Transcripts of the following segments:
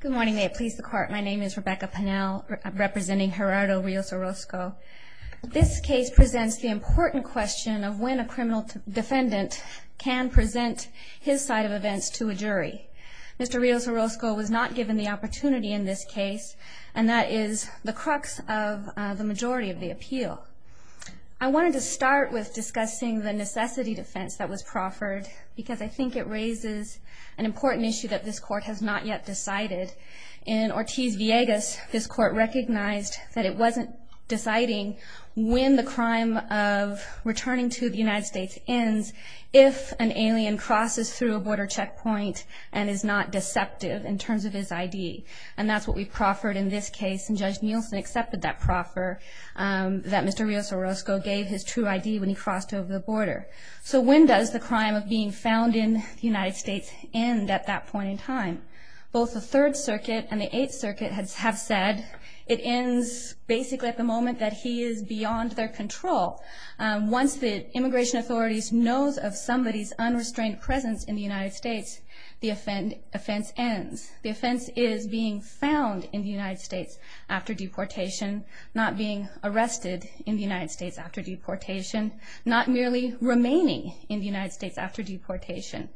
Good morning, may it please the court. My name is Rebecca Pannell, representing Gerardo Rios-Orozco. This case presents the important question of when a criminal defendant can present his side of events to a jury. Mr. Rios-Orozco was not given the opportunity in this case, and that is the crux of the majority of the appeal. I wanted to start with discussing the necessity defense that was proffered because I think it raises an important issue that this court has not yet decided. In Ortiz-Villegas, this court recognized that it wasn't deciding when the crime of returning to the United States ends if an alien crosses through a border checkpoint and is not deceptive in terms of his ID. And that's what we proffered in this case, and Judge Nielsen accepted that proffer that Mr. Rios-Orozco gave his true ID when he crossed over the border. So when does the crime of being found in the United States end at that point in time? Both the Third Circuit and the Eighth Circuit have said it ends basically at the moment that he is beyond their control. Once the immigration authorities know of somebody's unrestrained presence in the United States, the offense ends. The offense is being found in the United States after deportation, not being arrested in the United States after deportation, not merely remaining in the United States after deportation.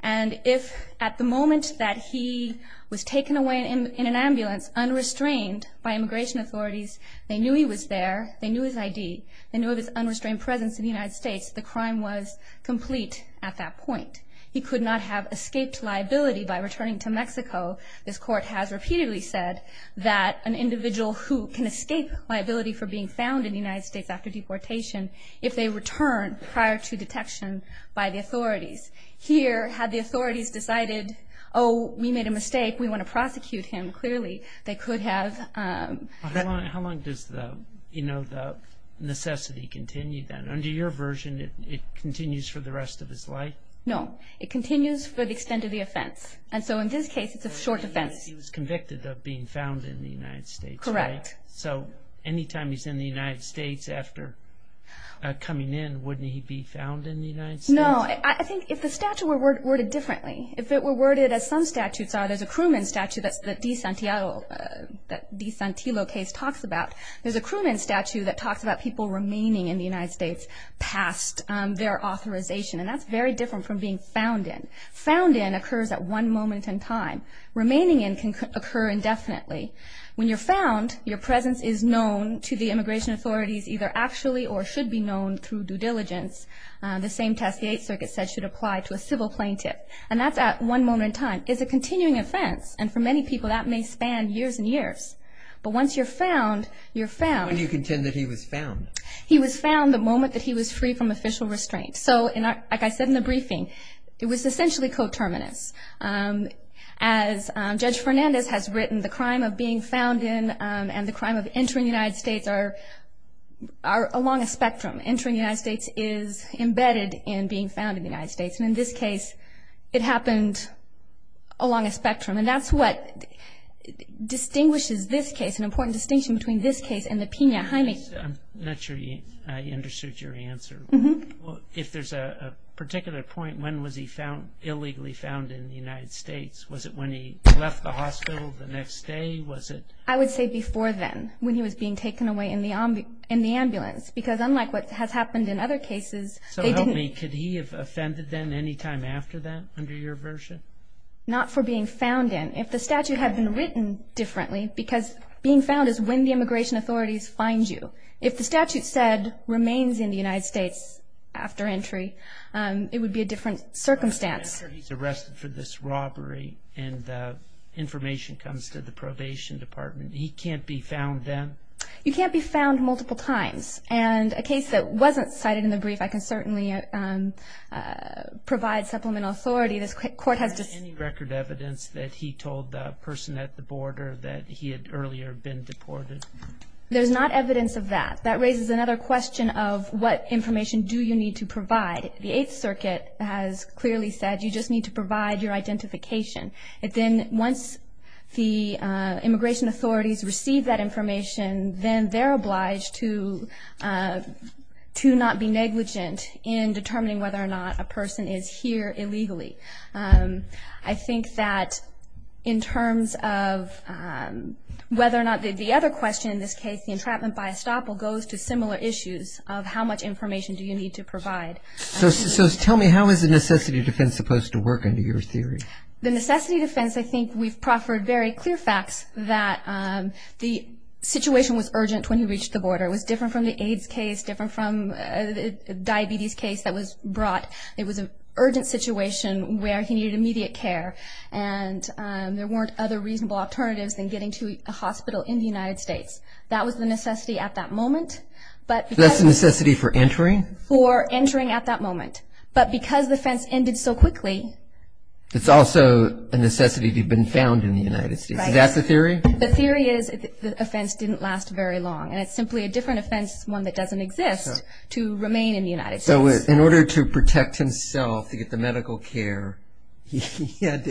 And if at the moment that he was taken away in an ambulance unrestrained by immigration authorities, they knew he was there, they knew his ID, they knew of his unrestrained presence in the United States, the crime was complete at that point. He could not have escaped liability by returning to Mexico. This court has repeatedly said that an individual who can escape liability for being found in the United States after deportation, if they return prior to detection by the authorities. Here, had the authorities decided, oh, we made a mistake, we want to prosecute him, clearly they could have... How long does the necessity continue then? Under your version, it continues for the rest of his life? No, it continues for the extent of the offense. And so in this case, it's a short defense. He was convicted of being found in the United States, right? Correct. So anytime he's in the United States after coming in, wouldn't he be found in the United States? No. I think if the statute were worded differently, if it were worded as some statutes are, there's a Cruman statute that Di Santillo case talks about. There's a Cruman statute that talks about people remaining in the United States past their authorization, and that's very different from being found in. Found in occurs at one moment in time. Remaining in can occur indefinitely. When you're found, your presence is known to the immigration authorities either actually or should be known through due diligence. The same test the Eighth Circuit said should apply to a civil plaintiff. And that's at one moment in time. It's a continuing offense, and for many people that may span years and years. But once you're found, you're found. When do you contend that he was found? He was found the moment that he was free from official restraint. So like I said in the briefing, it was essentially coterminous. As Judge Fernandez has written, the crime of being found in and the crime of entering the United States are along a spectrum. Entering the United States is embedded in being found in the United States. And in this case, it happened along a spectrum. And that's what distinguishes this case, an important distinction between this case and the Pena-Hyman case. I'm not sure you understood your answer. If there's a particular point, when was he found, illegally found in the United States? Was it when he left the hospital the next day? I would say before then, when he was being taken away in the ambulance. Because unlike what has happened in other cases, they didn't. So help me, could he have offended them any time after that under your version? Not for being found in. If the statute had been written differently, because being found is when the immigration authorities find you. If the statute said remains in the United States after entry, it would be a different circumstance. But after he's arrested for this robbery and the information comes to the probation department, he can't be found then? You can't be found multiple times. And a case that wasn't cited in the brief, I can certainly provide supplemental authority. This court has just— Is there any record evidence that he told the person at the border that he had earlier been deported? There's not evidence of that. That raises another question of what information do you need to provide. The Eighth Circuit has clearly said you just need to provide your identification. Then once the immigration authorities receive that information, then they're obliged to not be negligent in determining whether or not a person is here illegally. I think that in terms of whether or not— the other question in this case, the entrapment by estoppel, goes to similar issues of how much information do you need to provide. So tell me, how is the necessity defense supposed to work under your theory? The necessity defense, I think we've proffered very clear facts that the situation was urgent when he reached the border. It was different from the AIDS case, different from the diabetes case that was brought. It was an urgent situation where he needed immediate care, and there weren't other reasonable alternatives than getting to a hospital in the United States. That was the necessity at that moment. So that's the necessity for entering? For entering at that moment. But because the fence ended so quickly— It's also a necessity to have been found in the United States. Right. So that's the theory? The theory is the offense didn't last very long, and it's simply a different offense, one that doesn't exist, to remain in the United States. So in order to protect himself, to get the medical care, he had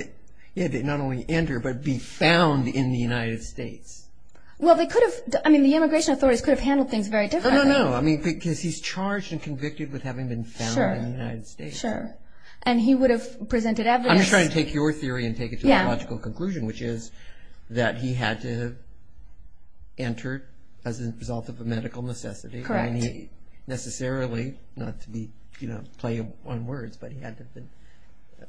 to not only enter, but be found in the United States. Well, they could have—I mean, the immigration authorities could have handled things very differently. No, no, no. I mean, because he's charged and convicted with having been found in the United States. Sure. And he would have presented evidence— I'm just trying to take your theory and take it to the logical conclusion, which is that he had to have entered as a result of a medical necessity. Correct. I mean, necessarily, not to be—you know, play on words, but he had to have been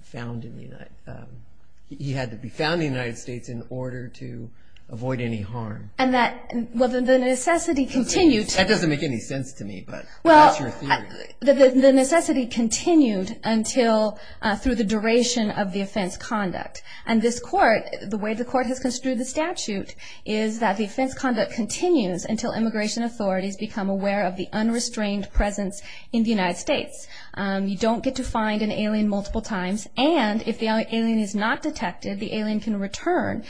found in the United—he had to be found in the United States in order to avoid any harm. And that—well, the necessity continued— That doesn't make any sense to me, but that's your theory. Well, the necessity continued until—through the duration of the offense conduct. And this court, the way the court has construed the statute, is that the offense conduct continues until immigration authorities become aware of the unrestrained presence in the United States. You don't get to find an alien multiple times, and if the alien is not detected, the alien can return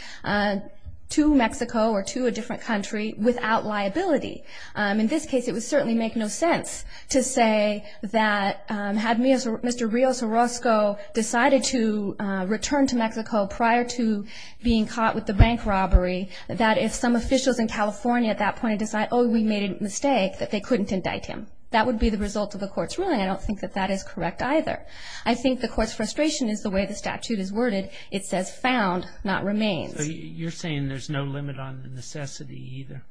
to Mexico or to a different country without liability. In this case, it would certainly make no sense to say that had Mr. Rios Orozco decided to return to Mexico prior to being caught with the bank robbery, that if some officials in California at that point had decided, oh, we made a mistake, that they couldn't indict him. That would be the result of the court's ruling. I don't think that that is correct either. I think the court's frustration is the way the statute is worded. It says found, not remains. So you're saying there's no limit on the necessity either?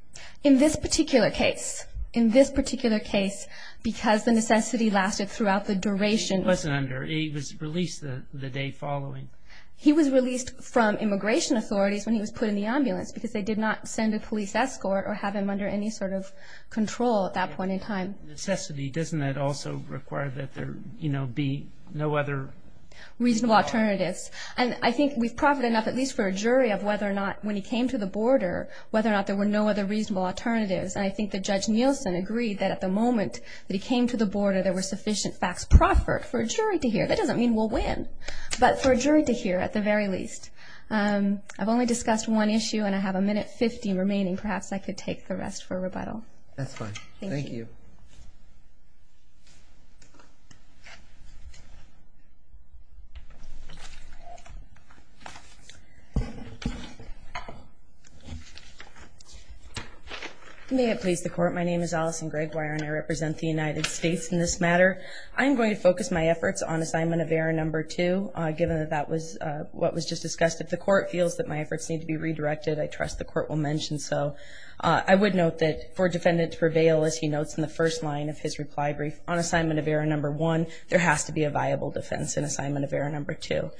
In this particular case, in this particular case, because the necessity lasted throughout the duration— He wasn't under. He was released the day following. He was released from immigration authorities when he was put in the ambulance because they did not send a police escort or have him under any sort of control at that point in time. Necessity, doesn't that also require that there, you know, be no other— Reasonable alternatives. And I think we've profited enough, at least for a jury, of whether or not, when he came to the border, whether or not there were no other reasonable alternatives. Whether there were sufficient facts proffered for a jury to hear. That doesn't mean we'll win. But for a jury to hear, at the very least. I've only discussed one issue, and I have a minute-fifty remaining. Perhaps I could take the rest for rebuttal. That's fine. Thank you. May it please the Court. My name is Allison Greggwire, and I represent the United States in this matter. I'm going to focus my efforts on Assignment of Error No. 2, given that that was what was just discussed. If the Court feels that my efforts need to be redirected, I trust the Court will mention so. I would note that for a defendant to prevail, as he notes in the first line of his reply brief, on Assignment of Error No. 1, there has to be a viable defense in Assignment of Error No. 2.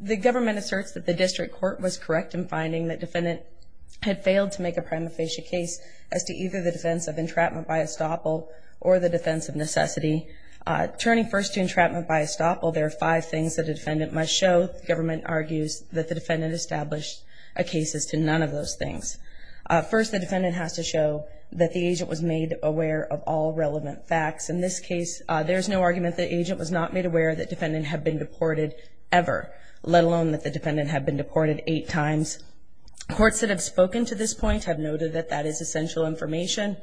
The government asserts that the district court was correct in finding that the defendant had failed to make a prima facie case as to either the defense of entrapment by estoppel or the defense of necessity. Turning first to entrapment by estoppel, there are five things that a defendant must show. The government argues that the defendant established a case as to none of those things. First, the defendant has to show that the agent was made aware of all relevant facts. In this case, there is no argument that the agent was not made aware that the defendant had been deported ever, let alone that the defendant had been deported eight times. Courts that have spoken to this point have noted that that is essential information.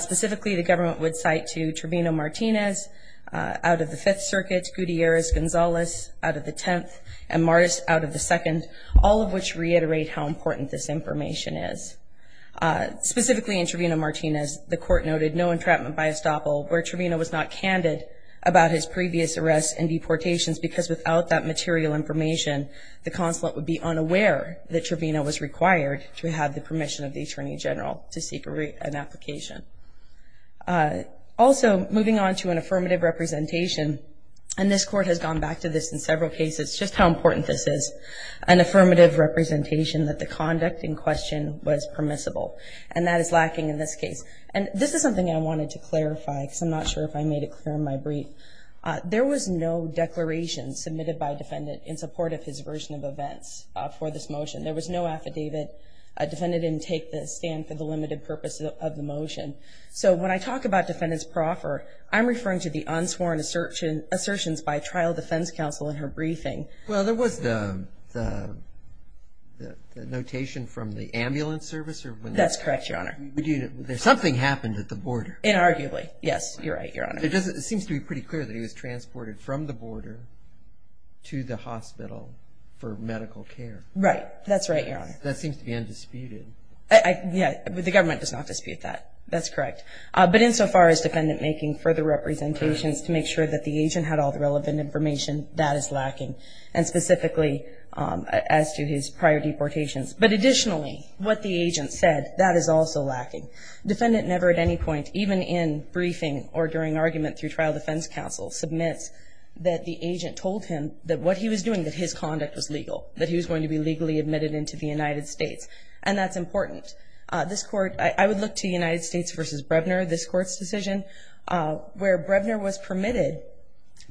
Specifically, the government would cite to Trevino-Martinez out of the Fifth Circuit, Gutierrez-Gonzalez out of the Tenth, and Martis out of the Second, all of which reiterate how important this information is. Specifically in Trevino-Martinez, the Court noted no entrapment by estoppel, where Trevino was not candid about his previous arrests and deportations because without that material information, the consulate would be unaware that Trevino was required to have the permission of the Attorney General to seek an application. Also, moving on to an affirmative representation, and this Court has gone back to this in several cases, just how important this is, an affirmative representation that the conduct in question was permissible, and that is lacking in this case. And this is something I wanted to clarify because I'm not sure if I made it clear in my brief. There was no declaration submitted by a defendant in support of his version of events for this motion. There was no affidavit. A defendant didn't take the stand for the limited purpose of the motion. So when I talk about defendants per offer, I'm referring to the unsworn assertions by trial defense counsel in her briefing. Well, there was the notation from the ambulance service. That's correct, Your Honor. Something happened at the border. Inarguably, yes. You're right, Your Honor. It seems to be pretty clear that he was transported from the border to the hospital for medical care. Right. That's right, Your Honor. That seems to be undisputed. Yeah. The government does not dispute that. That's correct. But insofar as defendant making further representations to make sure that the agent had all the relevant information, that is lacking, and specifically as to his prior deportations. But additionally, what the agent said, that is also lacking. Defendant never at any point, even in briefing or during argument through trial defense counsel, submits that the agent told him that what he was doing, that his conduct was legal, that he was going to be legally admitted into the United States. And that's important. This Court, I would look to United States v. Brevner, this Court's decision, where Brevner was permitted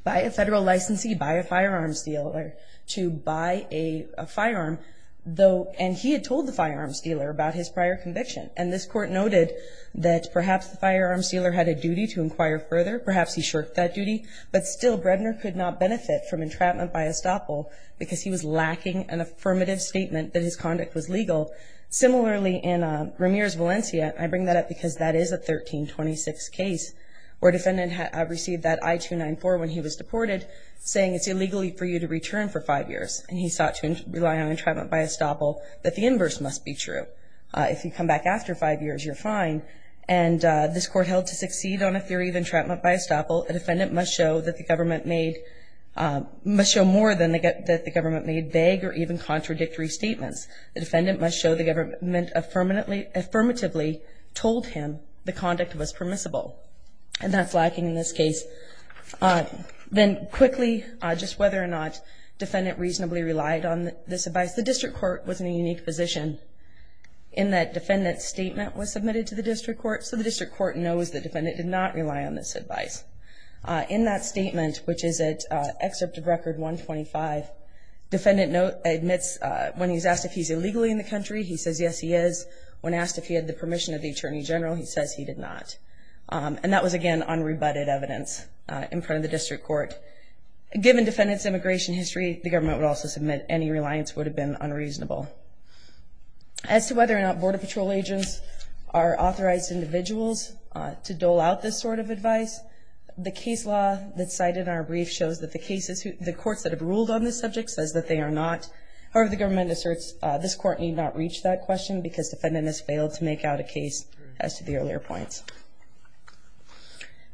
by a federal licensee, by a firearms dealer, to buy a firearm. And he had told the firearms dealer about his prior conviction. And this Court noted that perhaps the firearms dealer had a duty to inquire further. Perhaps he shirked that duty. But still, Brevner could not benefit from entrapment by estoppel because he was lacking an affirmative statement that his conduct was legal. Similarly, in Ramirez, Valencia, I bring that up because that is a 1326 case, where defendant received that I-294 when he was deported, saying it's illegal for you to return for five years. And he sought to rely on entrapment by estoppel that the inverse must be true. If you come back after five years, you're fine. And this Court held to succeed on a theory of entrapment by estoppel. A defendant must show that the government made, must show more than that the government made vague or even contradictory statements. The defendant must show the government affirmatively told him the conduct was permissible. And that's lacking in this case. Then quickly, just whether or not defendant reasonably relied on this advice. The District Court was in a unique position, in that defendant's statement was submitted to the District Court, so the District Court knows the defendant did not rely on this advice. In that statement, which is at Excerpt of Record 125, defendant admits when he's asked if he's illegally in the country, he says yes he is. When asked if he had the permission of the Attorney General, he says he did not. And that was, again, unrebutted evidence in front of the District Court. Given defendant's immigration history, the government would also submit any reliance would have been unreasonable. As to whether or not Border Patrol agents are authorized individuals to dole out this sort of advice, the case law that's cited in our brief shows that the cases, the courts that have ruled on this subject says that they are not. However, the government asserts this Court need not reach that question because defendant has failed to make out a case as to the earlier points.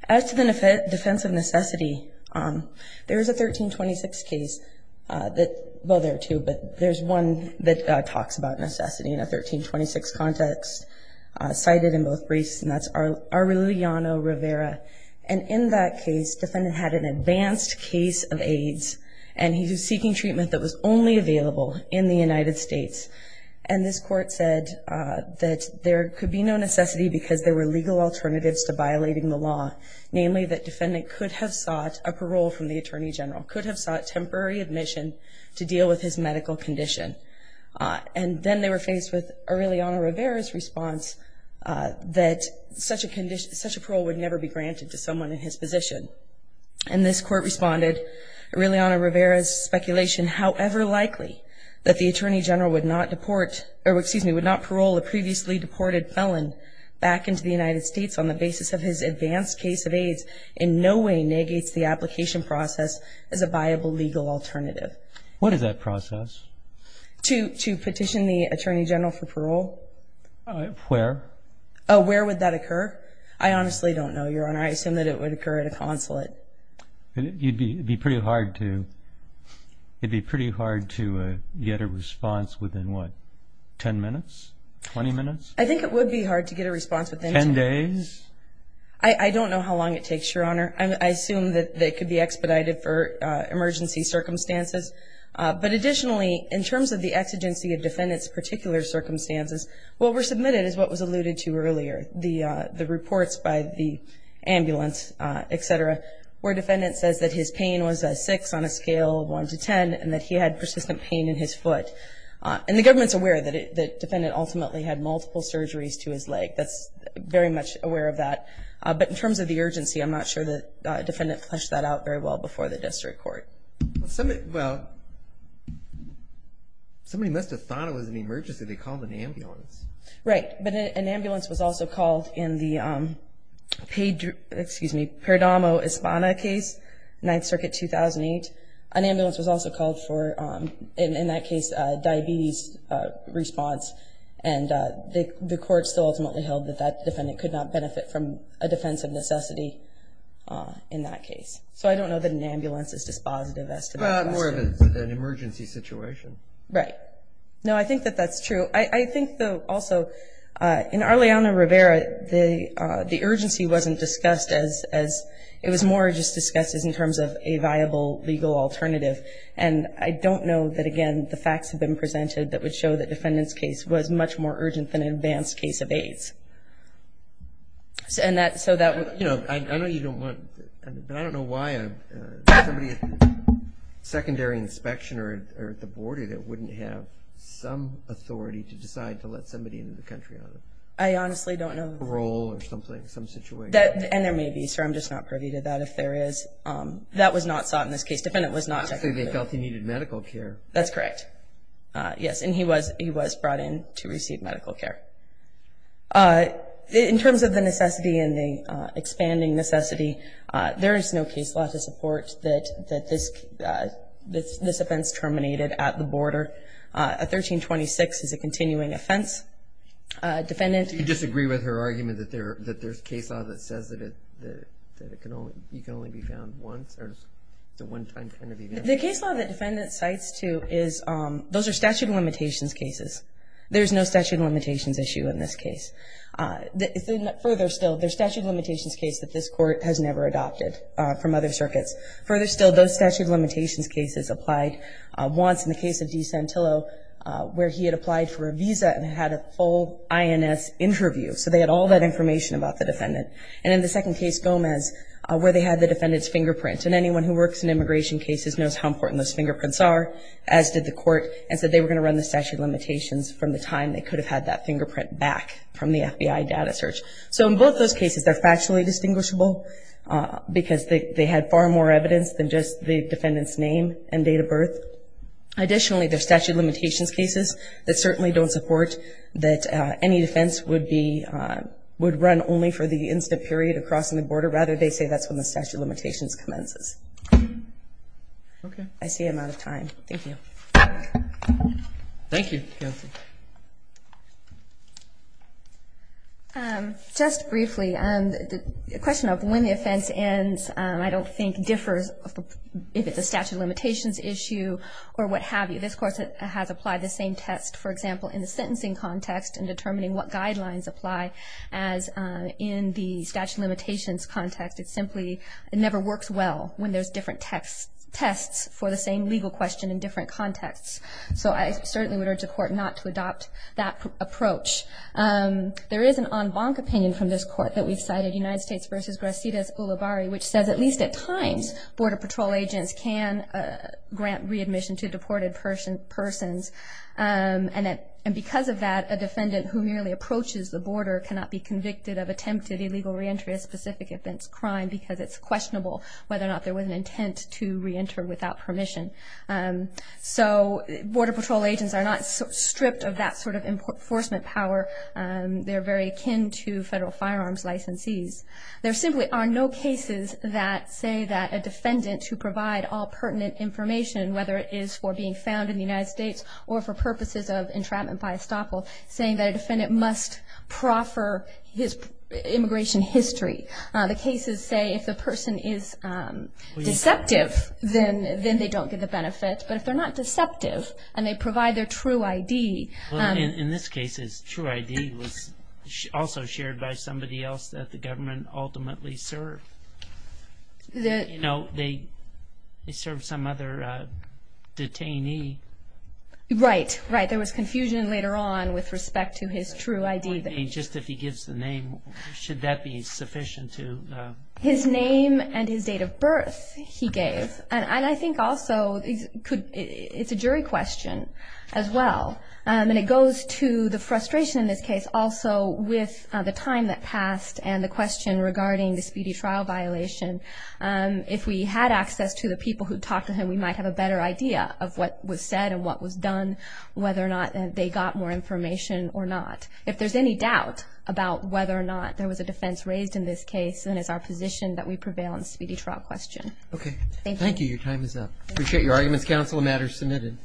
As to the defense of necessity, there is a 1326 case that, well, there are two, but there's one that talks about necessity in a 1326 context, cited in both briefs, and that's Aureliano Rivera. And in that case, defendant had an advanced case of AIDS, and he was seeking treatment that was only available in the United States. And this Court said that there could be no necessity because there were legal alternatives to violating the law, namely that defendant could have sought a parole from the Attorney General, could have sought temporary admission to deal with his medical condition. And then they were faced with Aureliano Rivera's response that such a parole would never be granted to someone in his position. And this Court responded, Aureliano Rivera's speculation, however likely, that the Attorney General would not deport or, excuse me, would not parole a previously deported felon back into the United States on the basis of his advanced case of AIDS, in no way negates the application process as a viable legal alternative. What is that process? To petition the Attorney General for parole. Where? Where would that occur? I honestly don't know, Your Honor. I assume that it would occur at a consulate. It would be pretty hard to get a response within, what, 10 minutes, 20 minutes? I think it would be hard to get a response within 10 minutes. Ten days? I don't know how long it takes, Your Honor. I assume that it could be expedited for emergency circumstances. But additionally, in terms of the exigency of defendants' particular circumstances, what were submitted is what was alluded to earlier, the reports by the ambulance, et cetera, where a defendant says that his pain was a 6 on a scale of 1 to 10 and that he had persistent pain in his foot. And the government's aware that the defendant ultimately had multiple surgeries to his leg. That's very much aware of that. But in terms of the urgency, I'm not sure the defendant fleshed that out very well before the district court. Well, somebody must have thought it was an emergency. They called an ambulance. Right. But an ambulance was also called in the Perdomo Espana case, 9th Circuit, 2008. An ambulance was also called for, in that case, a diabetes response. And the court still ultimately held that that defendant could not benefit from a defense of necessity in that case. So I don't know that an ambulance is dispositive as to that question. More of an emergency situation. Right. No, I think that that's true. I think, though, also, in Arleano-Rivera, the urgency wasn't discussed as ‑‑ it was more just discussed as in terms of a viable legal alternative. And I don't know that, again, the facts have been presented that would show that the defendant's case was much more urgent than an advanced case of AIDS. I know you don't want to, but I don't know why somebody at the secondary inspection or at the border that wouldn't have some authority to decide to let somebody into the country on a parole or something, some situation. And there may be, sir. I'm just not privy to that. If there is, that was not sought in this case. The defendant was not technically ‑‑ They felt he needed medical care. That's correct. Yes. And he was brought in to receive medical care. In terms of the necessity and the expanding necessity, there is no case law to support that this offense terminated at the border. A 1326 is a continuing offense. Defendant ‑‑ Do you disagree with her argument that there's case law that says that you can only be found once, or it's a one‑time kind of event? The case law the defendant cites, too, those are statute of limitations cases. There's no statute of limitations issue in this case. Further still, there's statute of limitations cases that this court has never adopted from other circuits. Further still, those statute of limitations cases applied once in the case of De Santillo, where he had applied for a visa and had a full INS interview, so they had all that information about the defendant. And in the second case, Gomez, where they had the defendant's fingerprint, and anyone who works in immigration cases knows how important those fingerprints are, as did the court, and said they were going to run the statute of limitations from the time they could have had that fingerprint back from the FBI data search. So in both those cases, they're factually distinguishable because they had far more evidence than just the defendant's name and date of birth. Additionally, there's statute of limitations cases that certainly don't support that any defense would run only for the instant period of crossing the border. Rather, they say that's when the statute of limitations commences. Okay. I see I'm out of time. Thank you. Thank you, Kelsey. Just briefly, the question of when the offense ends I don't think differs if it's a statute of limitations issue or what have you. This court has applied the same test, for example, in the sentencing context in determining what guidelines apply as in the statute of limitations context. It simply never works well when there's different tests for the same legal question in different contexts. So I certainly would urge the court not to adopt that approach. There is an en banc opinion from this court that we've cited, United States v. Gracidas Ulibarri, which says at least at times border patrol agents can grant readmission to deported persons. And because of that, a defendant who merely approaches the border cannot be convicted of attempted illegal reentry of specific offense crime because it's questionable whether or not there was an intent to reenter without permission. So border patrol agents are not stripped of that sort of enforcement power. They're very akin to federal firearms licensees. There simply are no cases that say that a defendant who provide all pertinent information, whether it is for being found in the United States or for purposes of entrapment by estoppel, saying that a defendant must proffer his immigration history. The cases say if the person is deceptive, then they don't get the benefit. But if they're not deceptive and they provide their true ID... In this case, his true ID was also shared by somebody else that the government ultimately served. You know, they served some other detainee. Right, right. There was confusion later on with respect to his true ID. Just if he gives the name, should that be sufficient to... His name and his date of birth he gave. And I think also it's a jury question as well. And it goes to the frustration in this case also with the time that passed and the question regarding the speedy trial violation. If we had access to the people who talked to him, we might have a better idea of what was said and what was done, whether or not they got more information or not. If there's any doubt about whether or not there was a defense raised in this case, then it's our position that we prevail on the speedy trial question. Okay. Thank you. Appreciate your arguments, counsel. The matter is submitted.